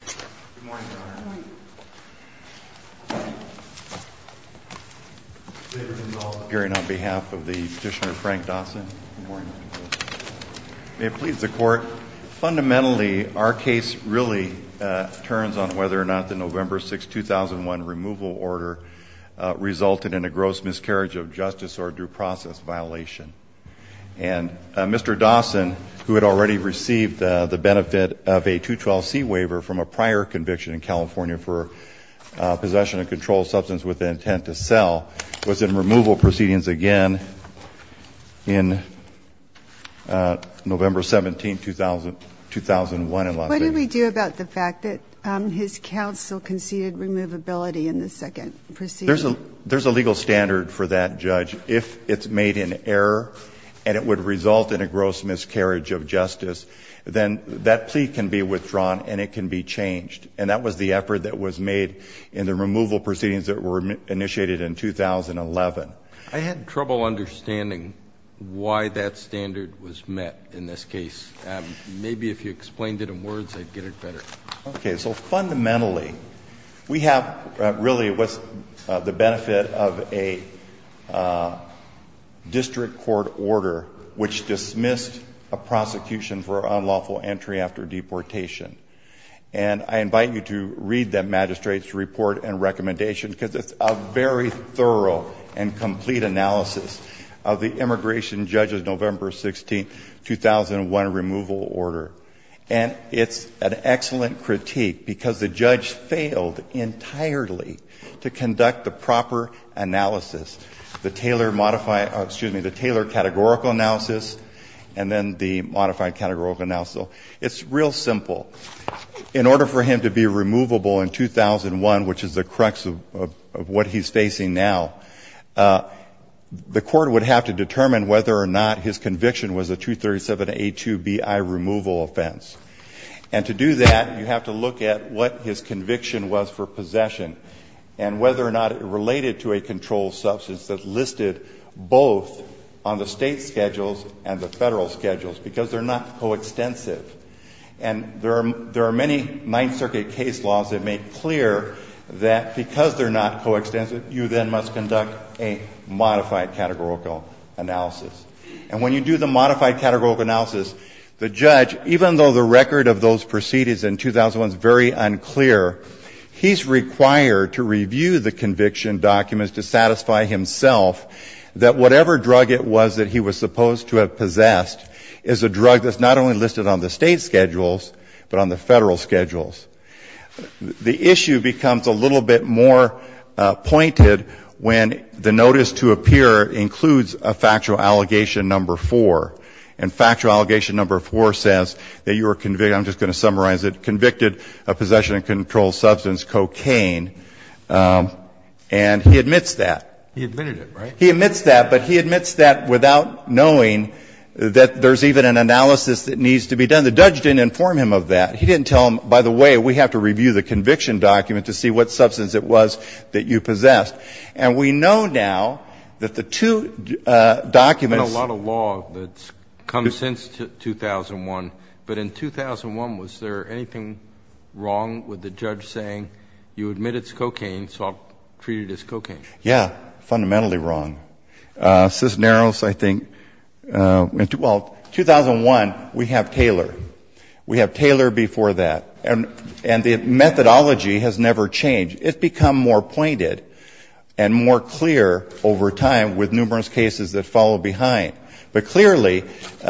Good morning, Your Honor. Good morning. Good morning, Your Honor. Hearing on behalf of the Petitioner Frank Dawson. Good morning, Mr. President. May it please the Court. Fundamentally, our case really turns on whether or not the November 6, 2001 removal order resulted in a gross miscarriage of justice or due process violation. And Mr. Dawson, who had already received the benefit of a 212C waiver from a prior conviction in California for possession of a controlled substance with the intent to sell, was in removal proceedings again in November 17, 2001. What did we do about the fact that his counsel conceded removability in the second proceeding? There's a legal standard for that, Judge. If it's made an error and it would result in a gross miscarriage of justice, it can be withdrawn and it can be changed. And that was the effort that was made in the removal proceedings that were initiated in 2011. I had trouble understanding why that standard was met in this case. Maybe if you explained it in words, I'd get it better. Okay. So fundamentally, we have really the benefit of a district court order which dismissed a prosecution for unlawful entry after deportation. And I invite you to read that magistrate's report and recommendation because it's a very thorough and complete analysis of the immigration judge's November 16, 2001 removal order. And it's an excellent critique because the judge failed entirely to conduct the proper analysis, the tailored categorical analysis, and then the modified categorical analysis. It's real simple. In order for him to be removable in 2001, which is the crux of what he's facing now, the court would have to determine whether or not his conviction was a 237A2Bi removal offense. And to do that, you have to look at what his conviction was for possession and whether or not it related to a controlled substance that listed both on the State schedules and the Federal schedules because they're not coextensive. And there are many Ninth Circuit case laws that make clear that because they're not coextensive, you then must conduct a modified categorical analysis. And when you do the modified categorical analysis, the judge, even though the record of those proceedings in 2001 is very unclear, he's required to review the conviction documents to satisfy himself that whatever drug it was that he was supposed to have possessed is a drug that's not only listed on the State schedules but on the Federal schedules. The issue becomes a little bit more pointed when the notice to appear includes a factual allegation number 4. And factual allegation number 4 says that you were convicted, I'm just going to summarize it, convicted of possession of a controlled substance, cocaine. And he admits that. He admitted it, right? He admits that, but he admits that without knowing that there's even an analysis that needs to be done. The judge didn't inform him of that. He didn't tell him, by the way, we have to review the conviction document to see what substance it was that you possessed. And we know now that the two documents And a lot of law that's come since 2001, but in 2001, was there anything wrong with the judge saying you admit it's cocaine, so I'll treat it as cocaine? Yeah. Fundamentally wrong. Well, 2001, we have Taylor. We have Taylor before that. And the methodology has never changed. It's become more pointed and more clear over time with numerous cases that follow behind. But clearly, if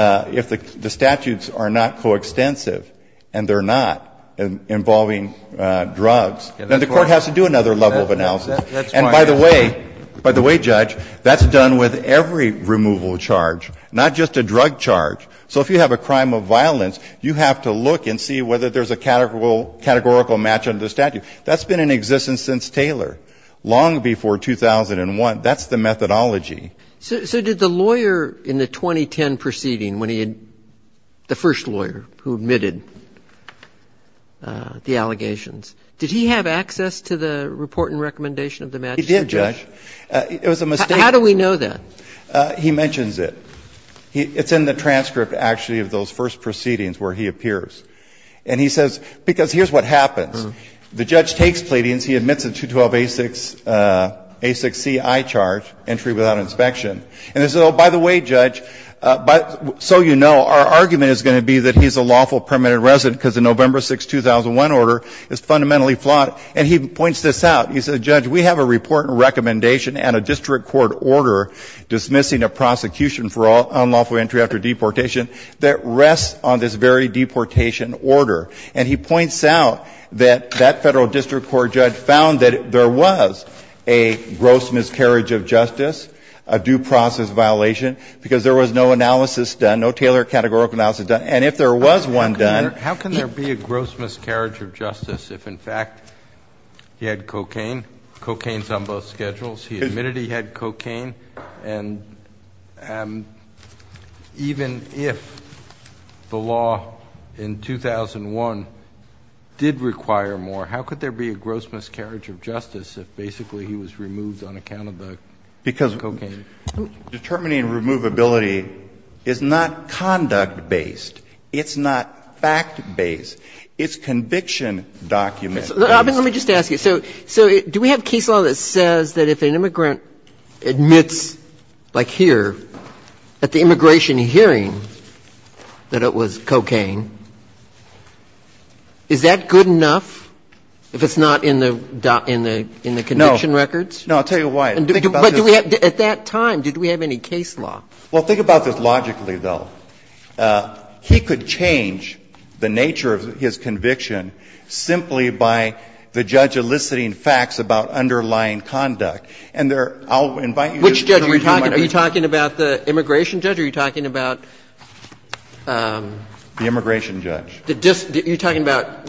the statutes are not coextensive, and they're not, involving drugs, then the Court has to do another level of analysis. And by the way, by the way, Judge, that's done with every removal charge, not just a drug charge. So if you have a crime of violence, you have to look and see whether there's a categorical match under the statute. That's been in existence since Taylor, long before 2001. That's the methodology. So did the lawyer in the 2010 proceeding, when he had the first lawyer who admitted the allegations, did he have access to the report and recommendation of the magistrate? He did, Judge. It was a mistake. How do we know that? He mentions it. It's in the transcript, actually, of those first proceedings where he appears. And he says, because here's what happens. The judge takes pleadings. He admits a 212A6CI charge, entry without inspection. And he says, oh, by the way, Judge, so you know, our argument is going to be that he's a lawful permanent resident because the November 6, 2001 order is fundamentally flawed. And he points this out. He says, Judge, we have a report and recommendation and a district court order dismissing a prosecution for unlawful entry after deportation that rests on this very deportation order. And he points out that that Federal law requires a gross miscarriage of justice, a due process violation, because there was no analysis done, no tailored categorical analysis done. And if there was one done ---- How can there be a gross miscarriage of justice if, in fact, he had cocaine, cocaine's on both schedules, he admitted he had cocaine, and even if the law in 2001 did require more, how could there be a gross miscarriage of justice if basically he was removed on account of the cocaine? Because determining removability is not conduct-based. It's not fact-based. It's conviction-document-based. Let me just ask you. So do we have case law that says that if an immigrant admits, like here, at the immigration hearing that it was cocaine, is that good enough if it's not in the ---- No. ----in the conviction records? No. I'll tell you why. Think about this. But do we have at that time, did we have any case law? Well, think about this logically, though. He could change the nature of his conviction simply by the judge eliciting facts about underlying conduct. And there are ---- Which judge are you talking about? Are you talking about the immigration judge or are you talking about ---- The immigration judge. You're talking about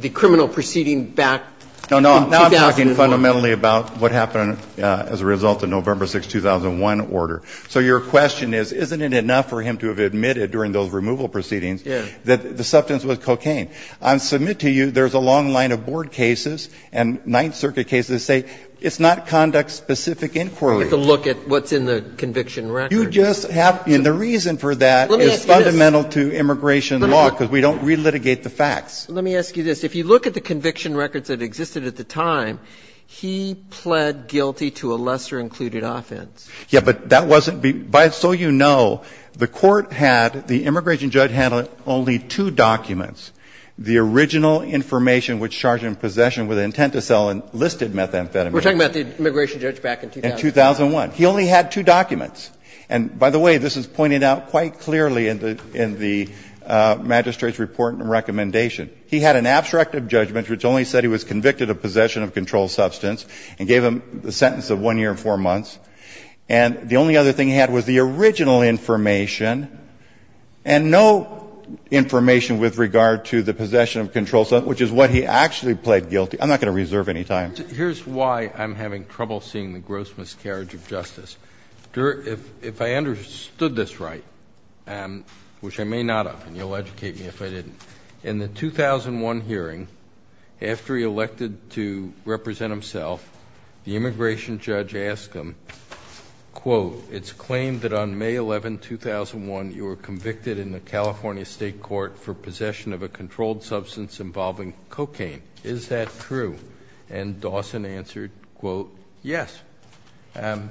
the criminal proceeding back in 2000? No, no. Now I'm talking fundamentally about what happened as a result of November 6, 2001 order. So your question is, isn't it enough for him to have admitted during those removal proceedings that the substance was cocaine? I'll submit to you there's a long line of board cases and Ninth Circuit cases that say it's not conduct-specific inquiry. You have to look at what's in the conviction records. You just have to. And the reason for that is fundamental to immigration law because we don't relitigate the facts. Let me ask you this. If you look at the conviction records that existed at the time, he pled guilty to a lesser-included offense. Yes, but that wasn't ---- So you know, the court had, the immigration judge had only two documents. The original information which charge him possession with intent to sell enlisted methamphetamine. We're talking about the immigration judge back in 2000? In 2001. He only had two documents. And by the way, this is pointed out quite clearly in the magistrate's report and recommendation. He had an abstract of judgment which only said he was convicted of possession of controlled substance and gave him the sentence of one year and four months. And the only other thing he had was the original information and no information with regard to the possession of controlled substance, which is what he actually pled guilty. I'm not going to reserve any time. Here's why I'm having trouble seeing the gross miscarriage of justice. If I understood this right, which I may not have, and you'll educate me if I didn't, in the 2001 hearing, after he elected to represent himself, the immigration judge asked him, quote, it's claimed that on May 11, 2001, you were convicted in the California State Court for possession of a controlled substance involving cocaine. Is that true? And Dawson answered, quote, yes. And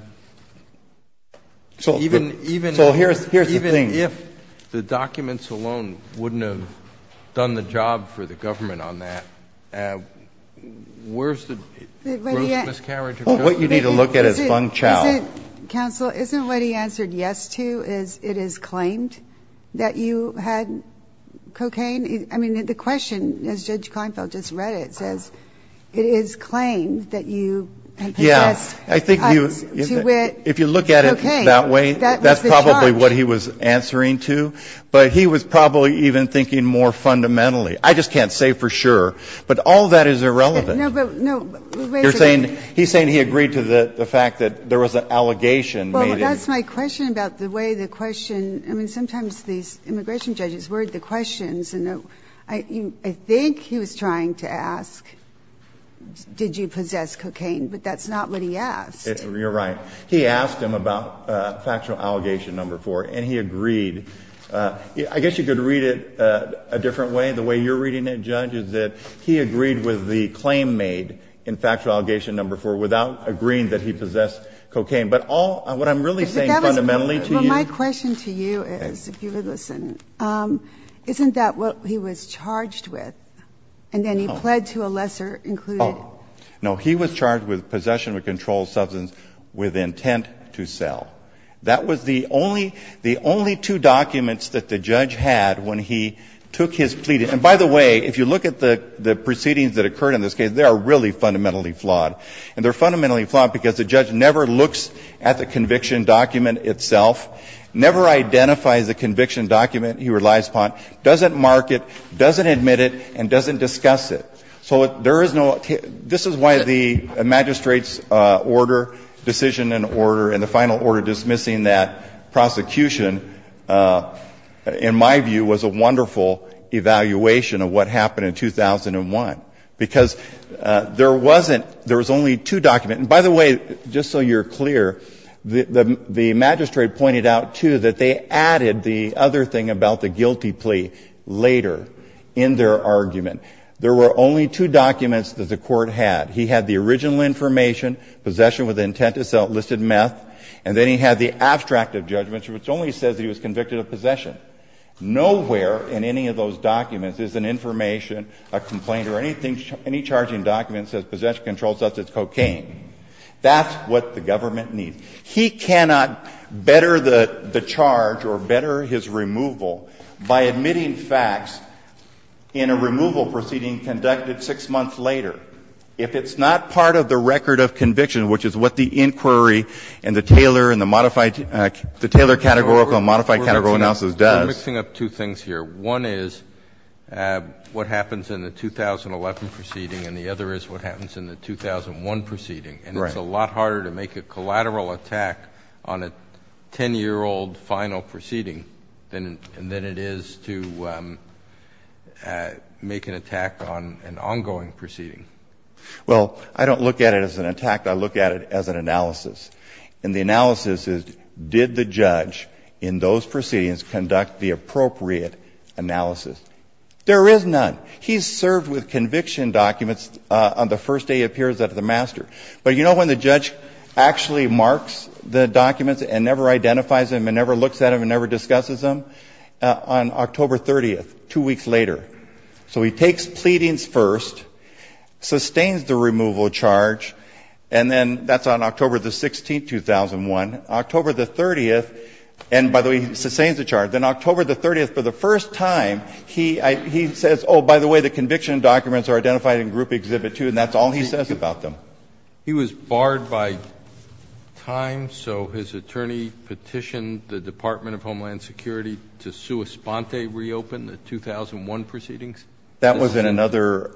even if the documents alone wouldn't have done the job for the government on that, where's the gross miscarriage of justice? Roberts. What you need to look at is Fung Chow. Counsel, isn't what he answered yes to is it is claimed that you had cocaine? I mean, the question, as Judge Kleinfeld just read it, says it is claimed that you had cocaine, and possessed to wit cocaine. If you look at it that way, that's probably what he was answering to. But he was probably even thinking more fundamentally. I just can't say for sure. But all of that is irrelevant. No, but wait a minute. He's saying he agreed to the fact that there was an allegation made in the court. That's my question about the way the question – I mean, sometimes these immigration judges word the questions, and I think he was trying to ask, did you possess cocaine? But that's not what he asked. You're right. He asked him about Factual Allegation No. 4, and he agreed. I guess you could read it a different way. The way you're reading it, Judge, is that he agreed with the claim made in Factual Allegation No. 4 without agreeing that he possessed cocaine. But all – what I'm really saying fundamentally to you – Well, my question to you is, if you would listen, isn't that what he was charged with? And then he pled to a lesser included – No. No, he was charged with possession of a controlled substance with intent to sell. That was the only – the only two documents that the judge had when he took his pleading. And by the way, if you look at the proceedings that occurred in this case, they are really fundamentally flawed. And they're fundamentally flawed because the judge never looks at the conviction document itself, never identifies the conviction document he relies upon, doesn't mark it, doesn't admit it, and doesn't discuss it. So there is no – this is why the magistrate's order, decision and order, and the final order dismissing that prosecution, in my view, was a wonderful evaluation of what happened in 2001, because there wasn't – there was only two documents – and by the way, just so you're clear, the magistrate pointed out, too, that they added the other thing about the guilty plea later in their argument. There were only two documents that the Court had. He had the original information, possession with intent to sell, listed meth, and then he had the abstract of judgments, which only says that he was convicted of possession. Nowhere in any of those documents is an information, a complaint, or anything – any charging document that says possession of a controlled substance is cocaine. That's what the government needs. He cannot better the charge or better his removal by admitting facts in a removal proceeding conducted 6 months later if it's not part of the record of conviction, which is what the inquiry and the Taylor and the modified – the Taylor categorical and modified categorical analysis does. Roberts. I'm mixing up two things here. One is what happens in the 2011 proceeding, and the other is what happens in the 2001 proceeding. Right. And it's a lot harder to make a collateral attack on a 10-year-old final proceeding than it is to make an attack on an ongoing proceeding. Well, I don't look at it as an attack. I look at it as an analysis. And the analysis is, did the judge in those proceedings conduct the appropriate analysis? There is none. He's served with conviction documents on the first day he appears at the master. But you know when the judge actually marks the documents and never identifies them and never looks at them and never discusses them? On October 30th, 2 weeks later. So he takes pleadings first, sustains the removal charge, and then that's on October 16, 2001. October 30th, and by the way, he sustains the charge. Then October 30th, for the first time, he says, oh, by the way, the conviction documents are identified in Group Exhibit 2, and that's all he says about them. He was barred by time, so his attorney petitioned the Department of Homeland Security to sua sponte reopen the 2001 proceedings? That was in another,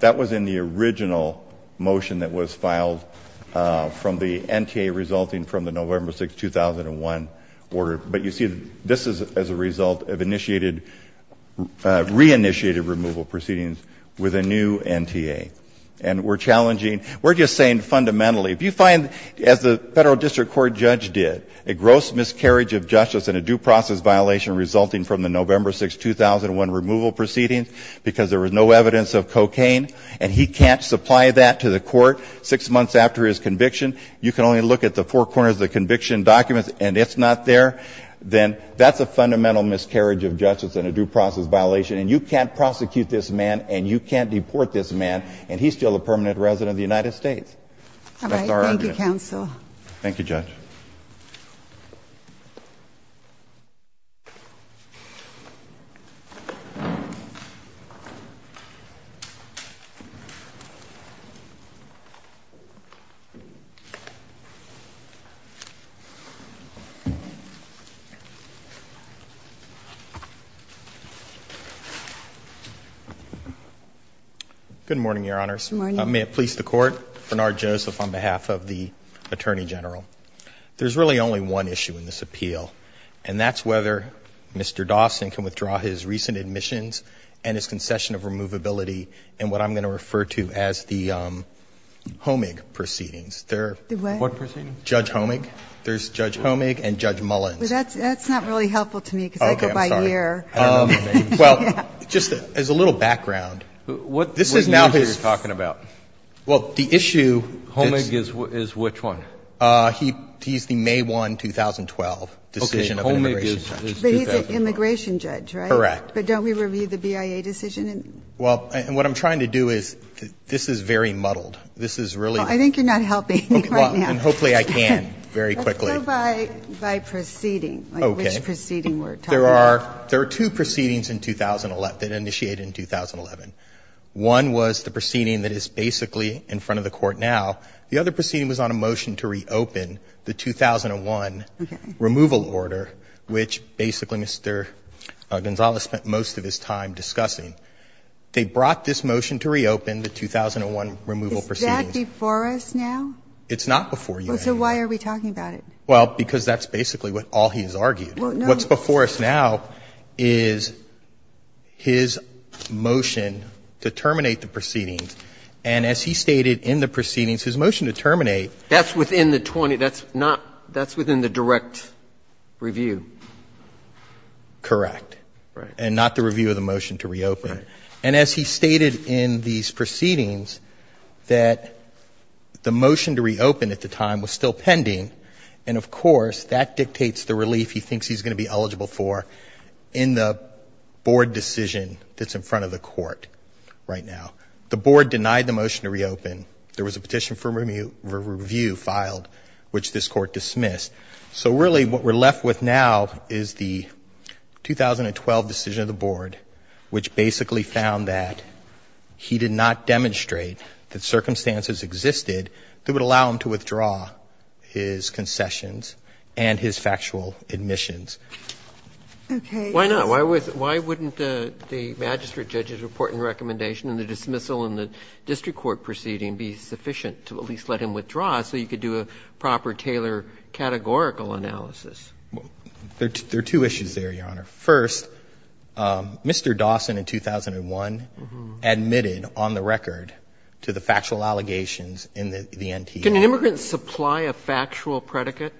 that was in the original motion that was filed from the NTA resulting from the November 6, 2001 order. But you see, this is as a result of initiated, re-initiated removal proceedings with a new NTA. And we're challenging, we're just saying fundamentally, if you find, as the Federal District Court judge did, a gross miscarriage of justice and a due process violation resulting from the November 6, 2001 removal proceedings because there was no evidence of cocaine, and he can't supply that to the court six months after his conviction, you can only look at the four corners of the conviction documents and it's not there, then that's a fundamental miscarriage of justice and a due process violation, and you can't prosecute this man and you can't deport this man, and he's still a permanent resident of the United States. All right. Thank you, counsel. Thank you, Judge. Good morning, Your Honors. Good morning. May it please the Court. Bernard Joseph on behalf of the Attorney General. There's really only one issue in this appeal, and that's whether Mr. Dawson can withdraw his recent admissions and his concession of removability in what I'm going to refer to as the Homig proceedings. What proceedings? Judge Homig. There's Judge Homig and Judge Mullins. That's not really helpful to me because I go by year. Okay. I'm sorry. Well, just as a little background. What years are you talking about? Well, the issue is. Homig is which one? He's the May 1, 2012 decision of an immigration judge. But he's an immigration judge, right? Correct. But don't we review the BIA decision? Well, and what I'm trying to do is this is very muddled. This is really. I think you're not helping me right now. Well, and hopefully I can very quickly. Let's go by proceeding. Okay. Like which proceeding we're talking about. There are two proceedings that initiated in 2011. One was the proceeding that is basically in front of the court now. The other proceeding was on a motion to reopen the 2001 removal order, which basically Mr. Gonzales spent most of his time discussing. They brought this motion to reopen the 2001 removal proceedings. Is that before us now? It's not before you. So why are we talking about it? Well, because that's basically all he's argued. What's before us now is his motion to terminate the proceedings. And as he stated in the proceedings, his motion to terminate. That's within the 20. That's not. That's within the direct review. Correct. Right. And not the review of the motion to reopen. Right. And as he stated in these proceedings, that the motion to reopen at the time was still pending. And, of course, that dictates the relief he thinks he's going to be eligible for in the board decision that's in front of the court right now. The board denied the motion to reopen. There was a petition for review filed, which this court dismissed. So really what we're left with now is the 2012 decision of the board, which basically found that he did not demonstrate that circumstances existed that would allow him to withdraw his concessions and his factual admissions. Okay. Why not? Why wouldn't the magistrate judge's report and recommendation and the dismissal in the district court proceeding be sufficient to at least let him withdraw so you could do a proper Taylor categorical analysis? There are two issues there, Your Honor. First, Mr. Dawson in 2001 admitted on the record to the factual allegations in the NTA. Can an immigrant supply a factual predicate?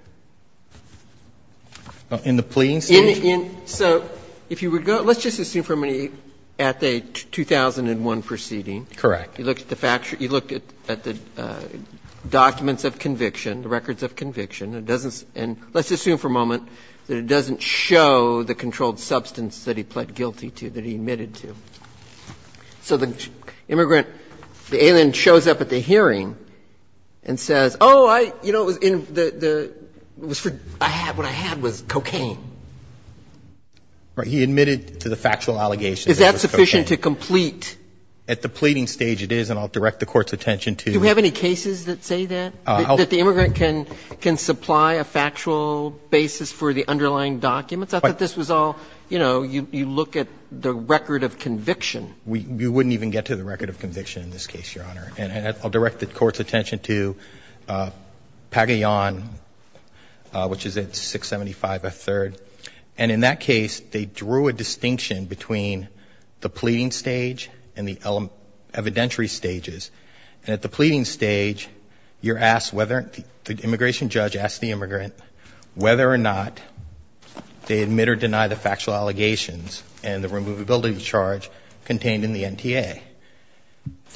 In the pleading stage? So if you would go to the 2001 proceeding. Correct. You looked at the documents of conviction, the records of conviction. And let's assume for a moment that it doesn't show the controlled substance that he pled guilty to, that he admitted to. So the immigrant, the alien shows up at the hearing and says, oh, I, you know, it was in the, it was for, I had, what I had was cocaine. He admitted to the factual allegations. Is that sufficient to complete? At the pleading stage it is, and I'll direct the Court's attention to. Do we have any cases that say that? That the immigrant can supply a factual basis for the underlying documents? I thought this was all, you know, you look at the record of conviction. We wouldn't even get to the record of conviction in this case, Your Honor. And I'll direct the Court's attention to Pagayan, which is at 675 F. 3rd. And in that case, they drew a distinction between the pleading stage and the evidentiary stages. And at the pleading stage, you're asked whether, the immigration judge asks the immigrant whether or not they admit or deny the factual allegations and the removability charge contained in the NTA.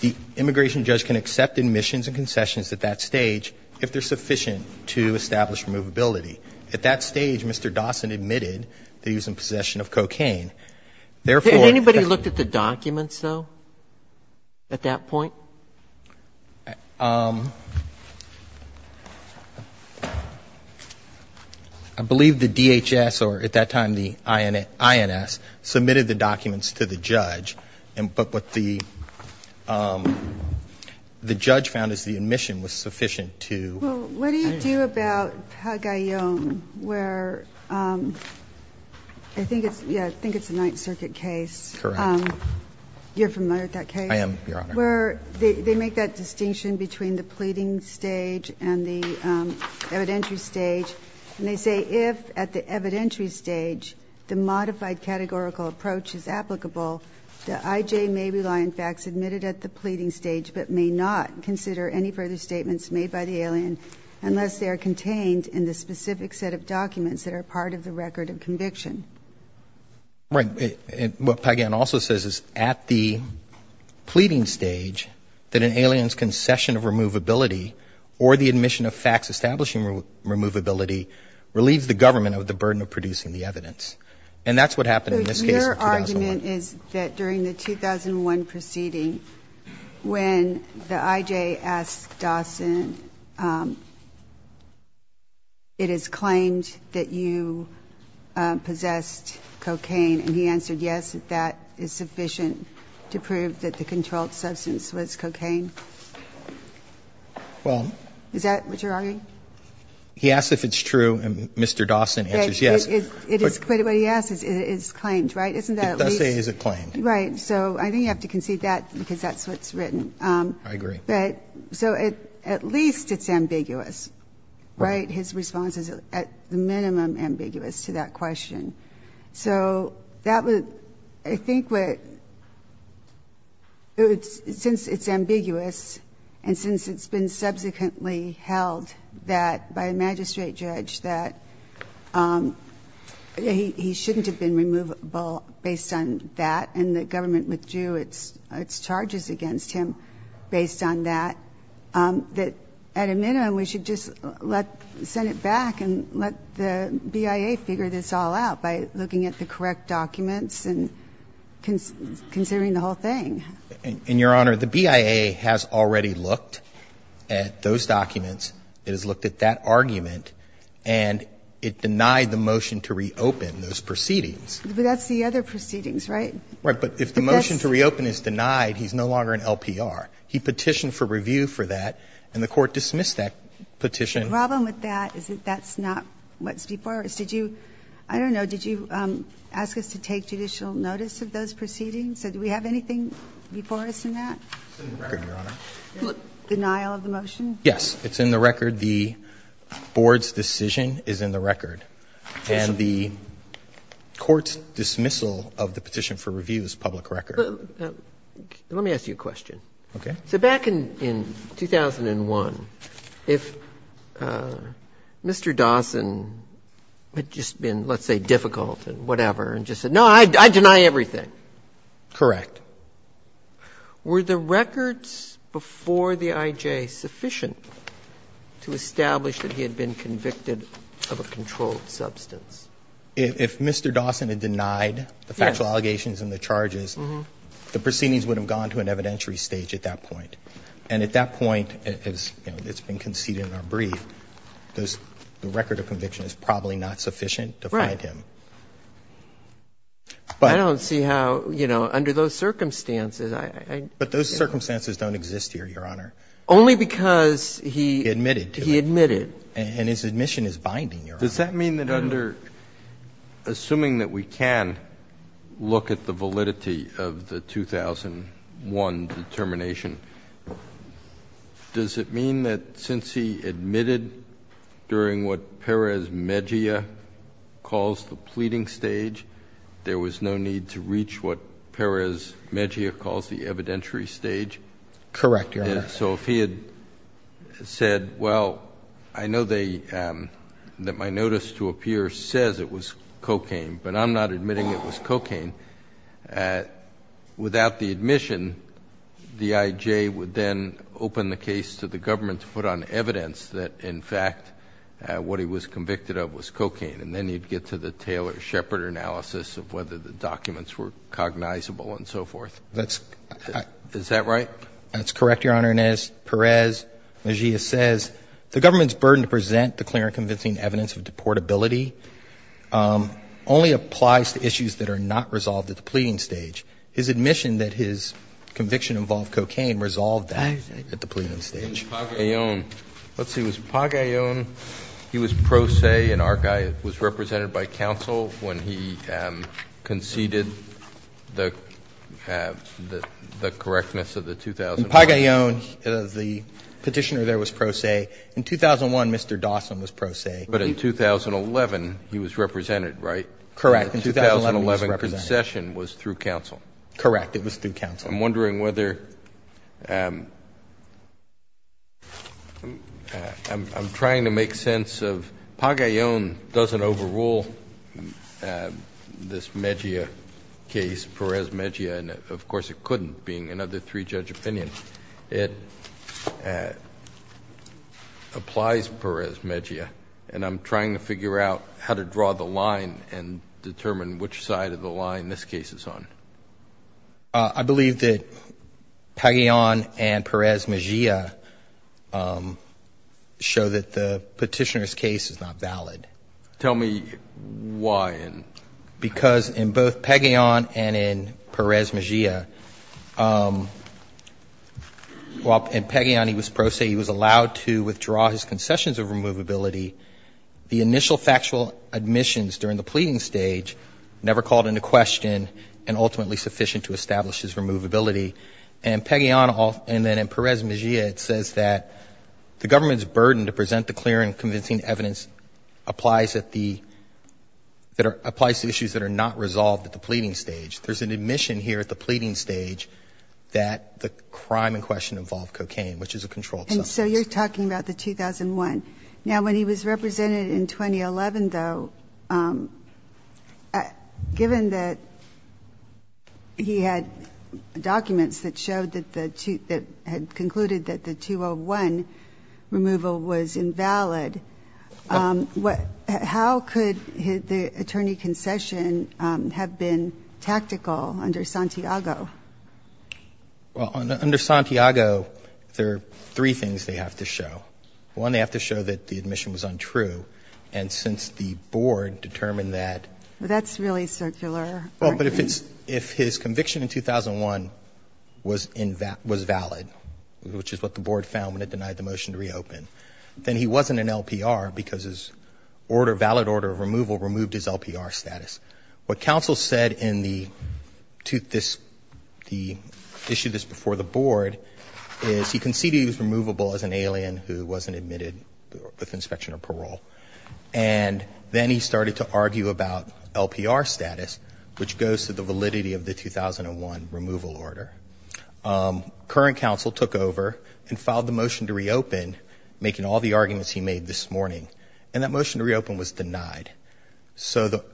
The immigration judge can accept admissions and concessions at that stage if they're sufficient to establish removability. At that stage, Mr. Dawson admitted that he was in possession of cocaine. Therefore, Has anybody looked at the documents, though, at that point? I believe the DHS, or at that time the INS, submitted the documents to the judge. But what the judge found is the admission was sufficient to Well, what do you do about Pagayan, where I think it's a Ninth Circuit case. Correct. You're familiar with that case? I am, Your Honor. Where they make that distinction between the pleading stage and the evidentiary stage. And they say if, at the evidentiary stage, the modified categorical approach is applicable, the IJ may rely on facts admitted at the pleading stage, but may not consider any further statements made by the alien unless they are contained in the specific set of documents that are part of the record of conviction. Right. What Pagayan also says is at the pleading stage, that an alien's concession of removability or the admission of facts establishing removability relieves the government of the burden of producing the evidence. And that's what happened in this case in 2001. But your argument is that during the 2001 proceeding, when the IJ asked Dawson, it is claimed that you possessed cocaine, and he answered yes, that that is sufficient to prove that the controlled substance was cocaine? Well. Is that what you're arguing? He asks if it's true, and Mr. Dawson answers yes. But what he asks is it is claimed, right? Isn't that at least? It does say it is claimed. Right. So I think you have to concede that, because that's what's written. I agree. So at least it's ambiguous, right? His response is at the minimum ambiguous to that question. So I think since it's ambiguous and since it's been subsequently held by a magistrate judge that he shouldn't have been removable based on that, and the government withdrew its charges against him based on that, that at a minimum we should just let the Senate back and let the BIA figure this all out by looking at the correct documents and considering the whole thing. And, Your Honor, the BIA has already looked at those documents. It has looked at that argument, and it denied the motion to reopen those proceedings. But that's the other proceedings, right? Right. But if the motion to reopen is denied, he's no longer an LPR. He petitioned for review for that, and the Court dismissed that petition. The problem with that is that that's not what's before us. Did you, I don't know, did you ask us to take judicial notice of those proceedings? Did we have anything before us in that? It's in the record, Your Honor. Denial of the motion? Yes. It's in the record. The Board's decision is in the record. And the Court's dismissal of the petition for review is public record. Let me ask you a question. Okay. So back in 2001, if Mr. Dawson had just been, let's say, difficult and whatever and just said, no, I deny everything. Correct. Were the records before the IJ sufficient to establish that he had been convicted of a controlled substance? If Mr. Dawson had denied the factual allegations and the charges, the proceedings would have gone to an evidentiary stage at that point. And at that point, as it's been conceded in our brief, the record of conviction is probably not sufficient to find him. Right. But I don't see how, you know, under those circumstances, I don't know. But those circumstances don't exist here, Your Honor. Only because he admitted to it. He admitted. And his admission is binding, Your Honor. Does that mean that under, assuming that we can look at the validity of the 2001 determination, does it mean that since he admitted during what Perez Mejia calls the pleading stage, there was no need to reach what Perez Mejia calls the evidentiary stage? Correct, Your Honor. So if he had said, well, I know that my notice to appear says it was cocaine, but I'm not admitting it was cocaine, without the admission, the IJ would then open the case to the government to put on evidence that, in fact, what he was convicted of was cocaine. And then he'd get to the Taylor-Shepard analysis of whether the documents were cognizable and so forth. Is that right? That's correct, Your Honor. And as Perez Mejia says, the government's burden to present the clear and convincing evidence of deportability only applies to issues that are not resolved at the pleading stage. His admission that his conviction involved cocaine resolved that at the pleading stage. And Pagayon. Let's see. Was Pagayon, he was pro se and our guy, was represented by counsel when he conceded the correctness of the 2001. In Pagayon, the Petitioner there was pro se. In 2001, Mr. Dawson was pro se. But in 2011, he was represented, right? In 2011, he was represented. And the 2011 concession was through counsel. Correct. It was through counsel. I'm wondering whether – I'm trying to make sense of Pagayon doesn't overrule this Mejia case, Perez Mejia. And, of course, it couldn't, being another three-judge opinion. It applies Perez Mejia. And I'm trying to figure out how to draw the line and determine which side of the line this case is on. I believe that Pagayon and Perez Mejia show that the Petitioner's case is not valid. Tell me why. Because in both Pagayon and in Perez Mejia, while in Pagayon he was pro se, he was allowed to withdraw his concessions of removability, the initial factual admissions during the pleading stage never called into question and ultimately sufficient to establish his removability. And in Pagayon and then in Perez Mejia, it says that the government's burden to present the clear and convincing evidence applies at the – applies to issues that are not resolved at the pleading stage. There's an admission here at the pleading stage that the crime in question involved cocaine, which is a controlled substance. And so you're talking about the 2001. Now, when he was represented in 2011, though, given that he had documents that showed that the – that had concluded that the 2001 removal was invalid, how could the attorney concession have been tactical under Santiago? Well, under Santiago, there are three things they have to show. One, they have to show that the admission was untrue. And since the board determined that – Well, that's really circular. Well, but if it's – if his conviction in 2001 was invalid, which is what the board found when it denied the motion to reopen, then he wasn't an LPR because his order – valid order of removal removed his LPR status. What counsel said in the – this – the issue that's before the board is he conceded he was removable as an alien who wasn't admitted with inspection or parole. And then he started to argue about LPR status, which goes to the validity of the 2001 removal order. Current counsel took over and filed the motion to reopen, making all the arguments he made this morning. And that motion to reopen was denied. So the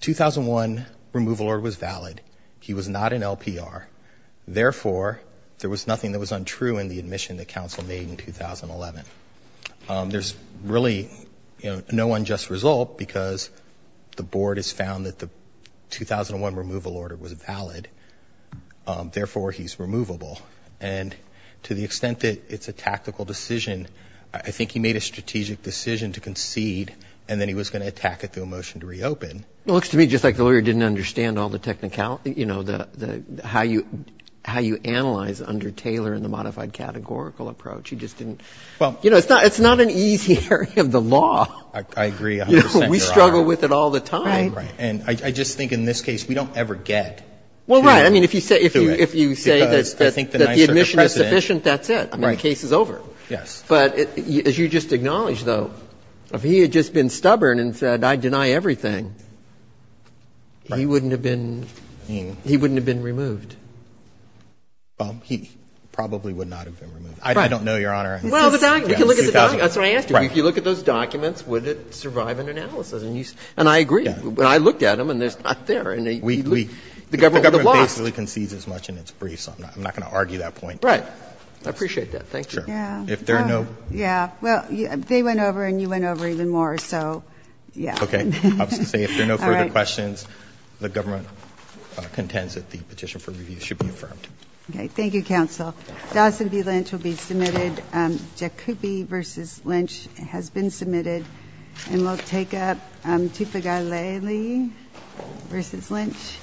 2001 removal order was valid. He was not an LPR. Therefore, there was nothing that was untrue in the admission that counsel made in 2011. There's really, you know, no unjust result because the board has found that the 2001 removal order was valid. Therefore, he's removable. And to the extent that it's a tactical decision, I think he made a strategic decision to concede, and then he was going to attack it through a motion to reopen. It looks to me just like the lawyer didn't understand all the technicality – you know, the – how you – how you analyze under Taylor in the modified categorical approach. He just didn't – you know, it's not an easy area of the law. I agree 100 percent, Your Honor. You know, we struggle with it all the time. Right, right. And I just think in this case, we don't ever get to it. Well, right. I mean, if you say that the admission is sufficient, that's it. Right. I mean, the case is over. Yes. But as you just acknowledged, though, if he had just been stubborn and said, I deny everything, he wouldn't have been – he wouldn't have been removed. Well, he probably would not have been removed. Right. I don't know, Your Honor. Well, the document – we can look at the document. That's what I asked you. Right. If you look at those documents, would it survive an analysis? And you – and I agree. Yeah. I looked at them, and they're not there. We – we – the government basically concedes as much in its brief, so I'm not going to argue that point. Right. I appreciate that. Thank you. Sure. Yeah. If there are no – yeah. Well, they went over and you went over even more, so, yeah. Okay. I was going to say, if there are no further questions, the government contends that the petition for review should be affirmed. Okay. Thank you, counsel. Dawson v. Lynch will be submitted. Jakuby v. Lynch has been submitted. And we'll take up Tipigaleli v. Lynch.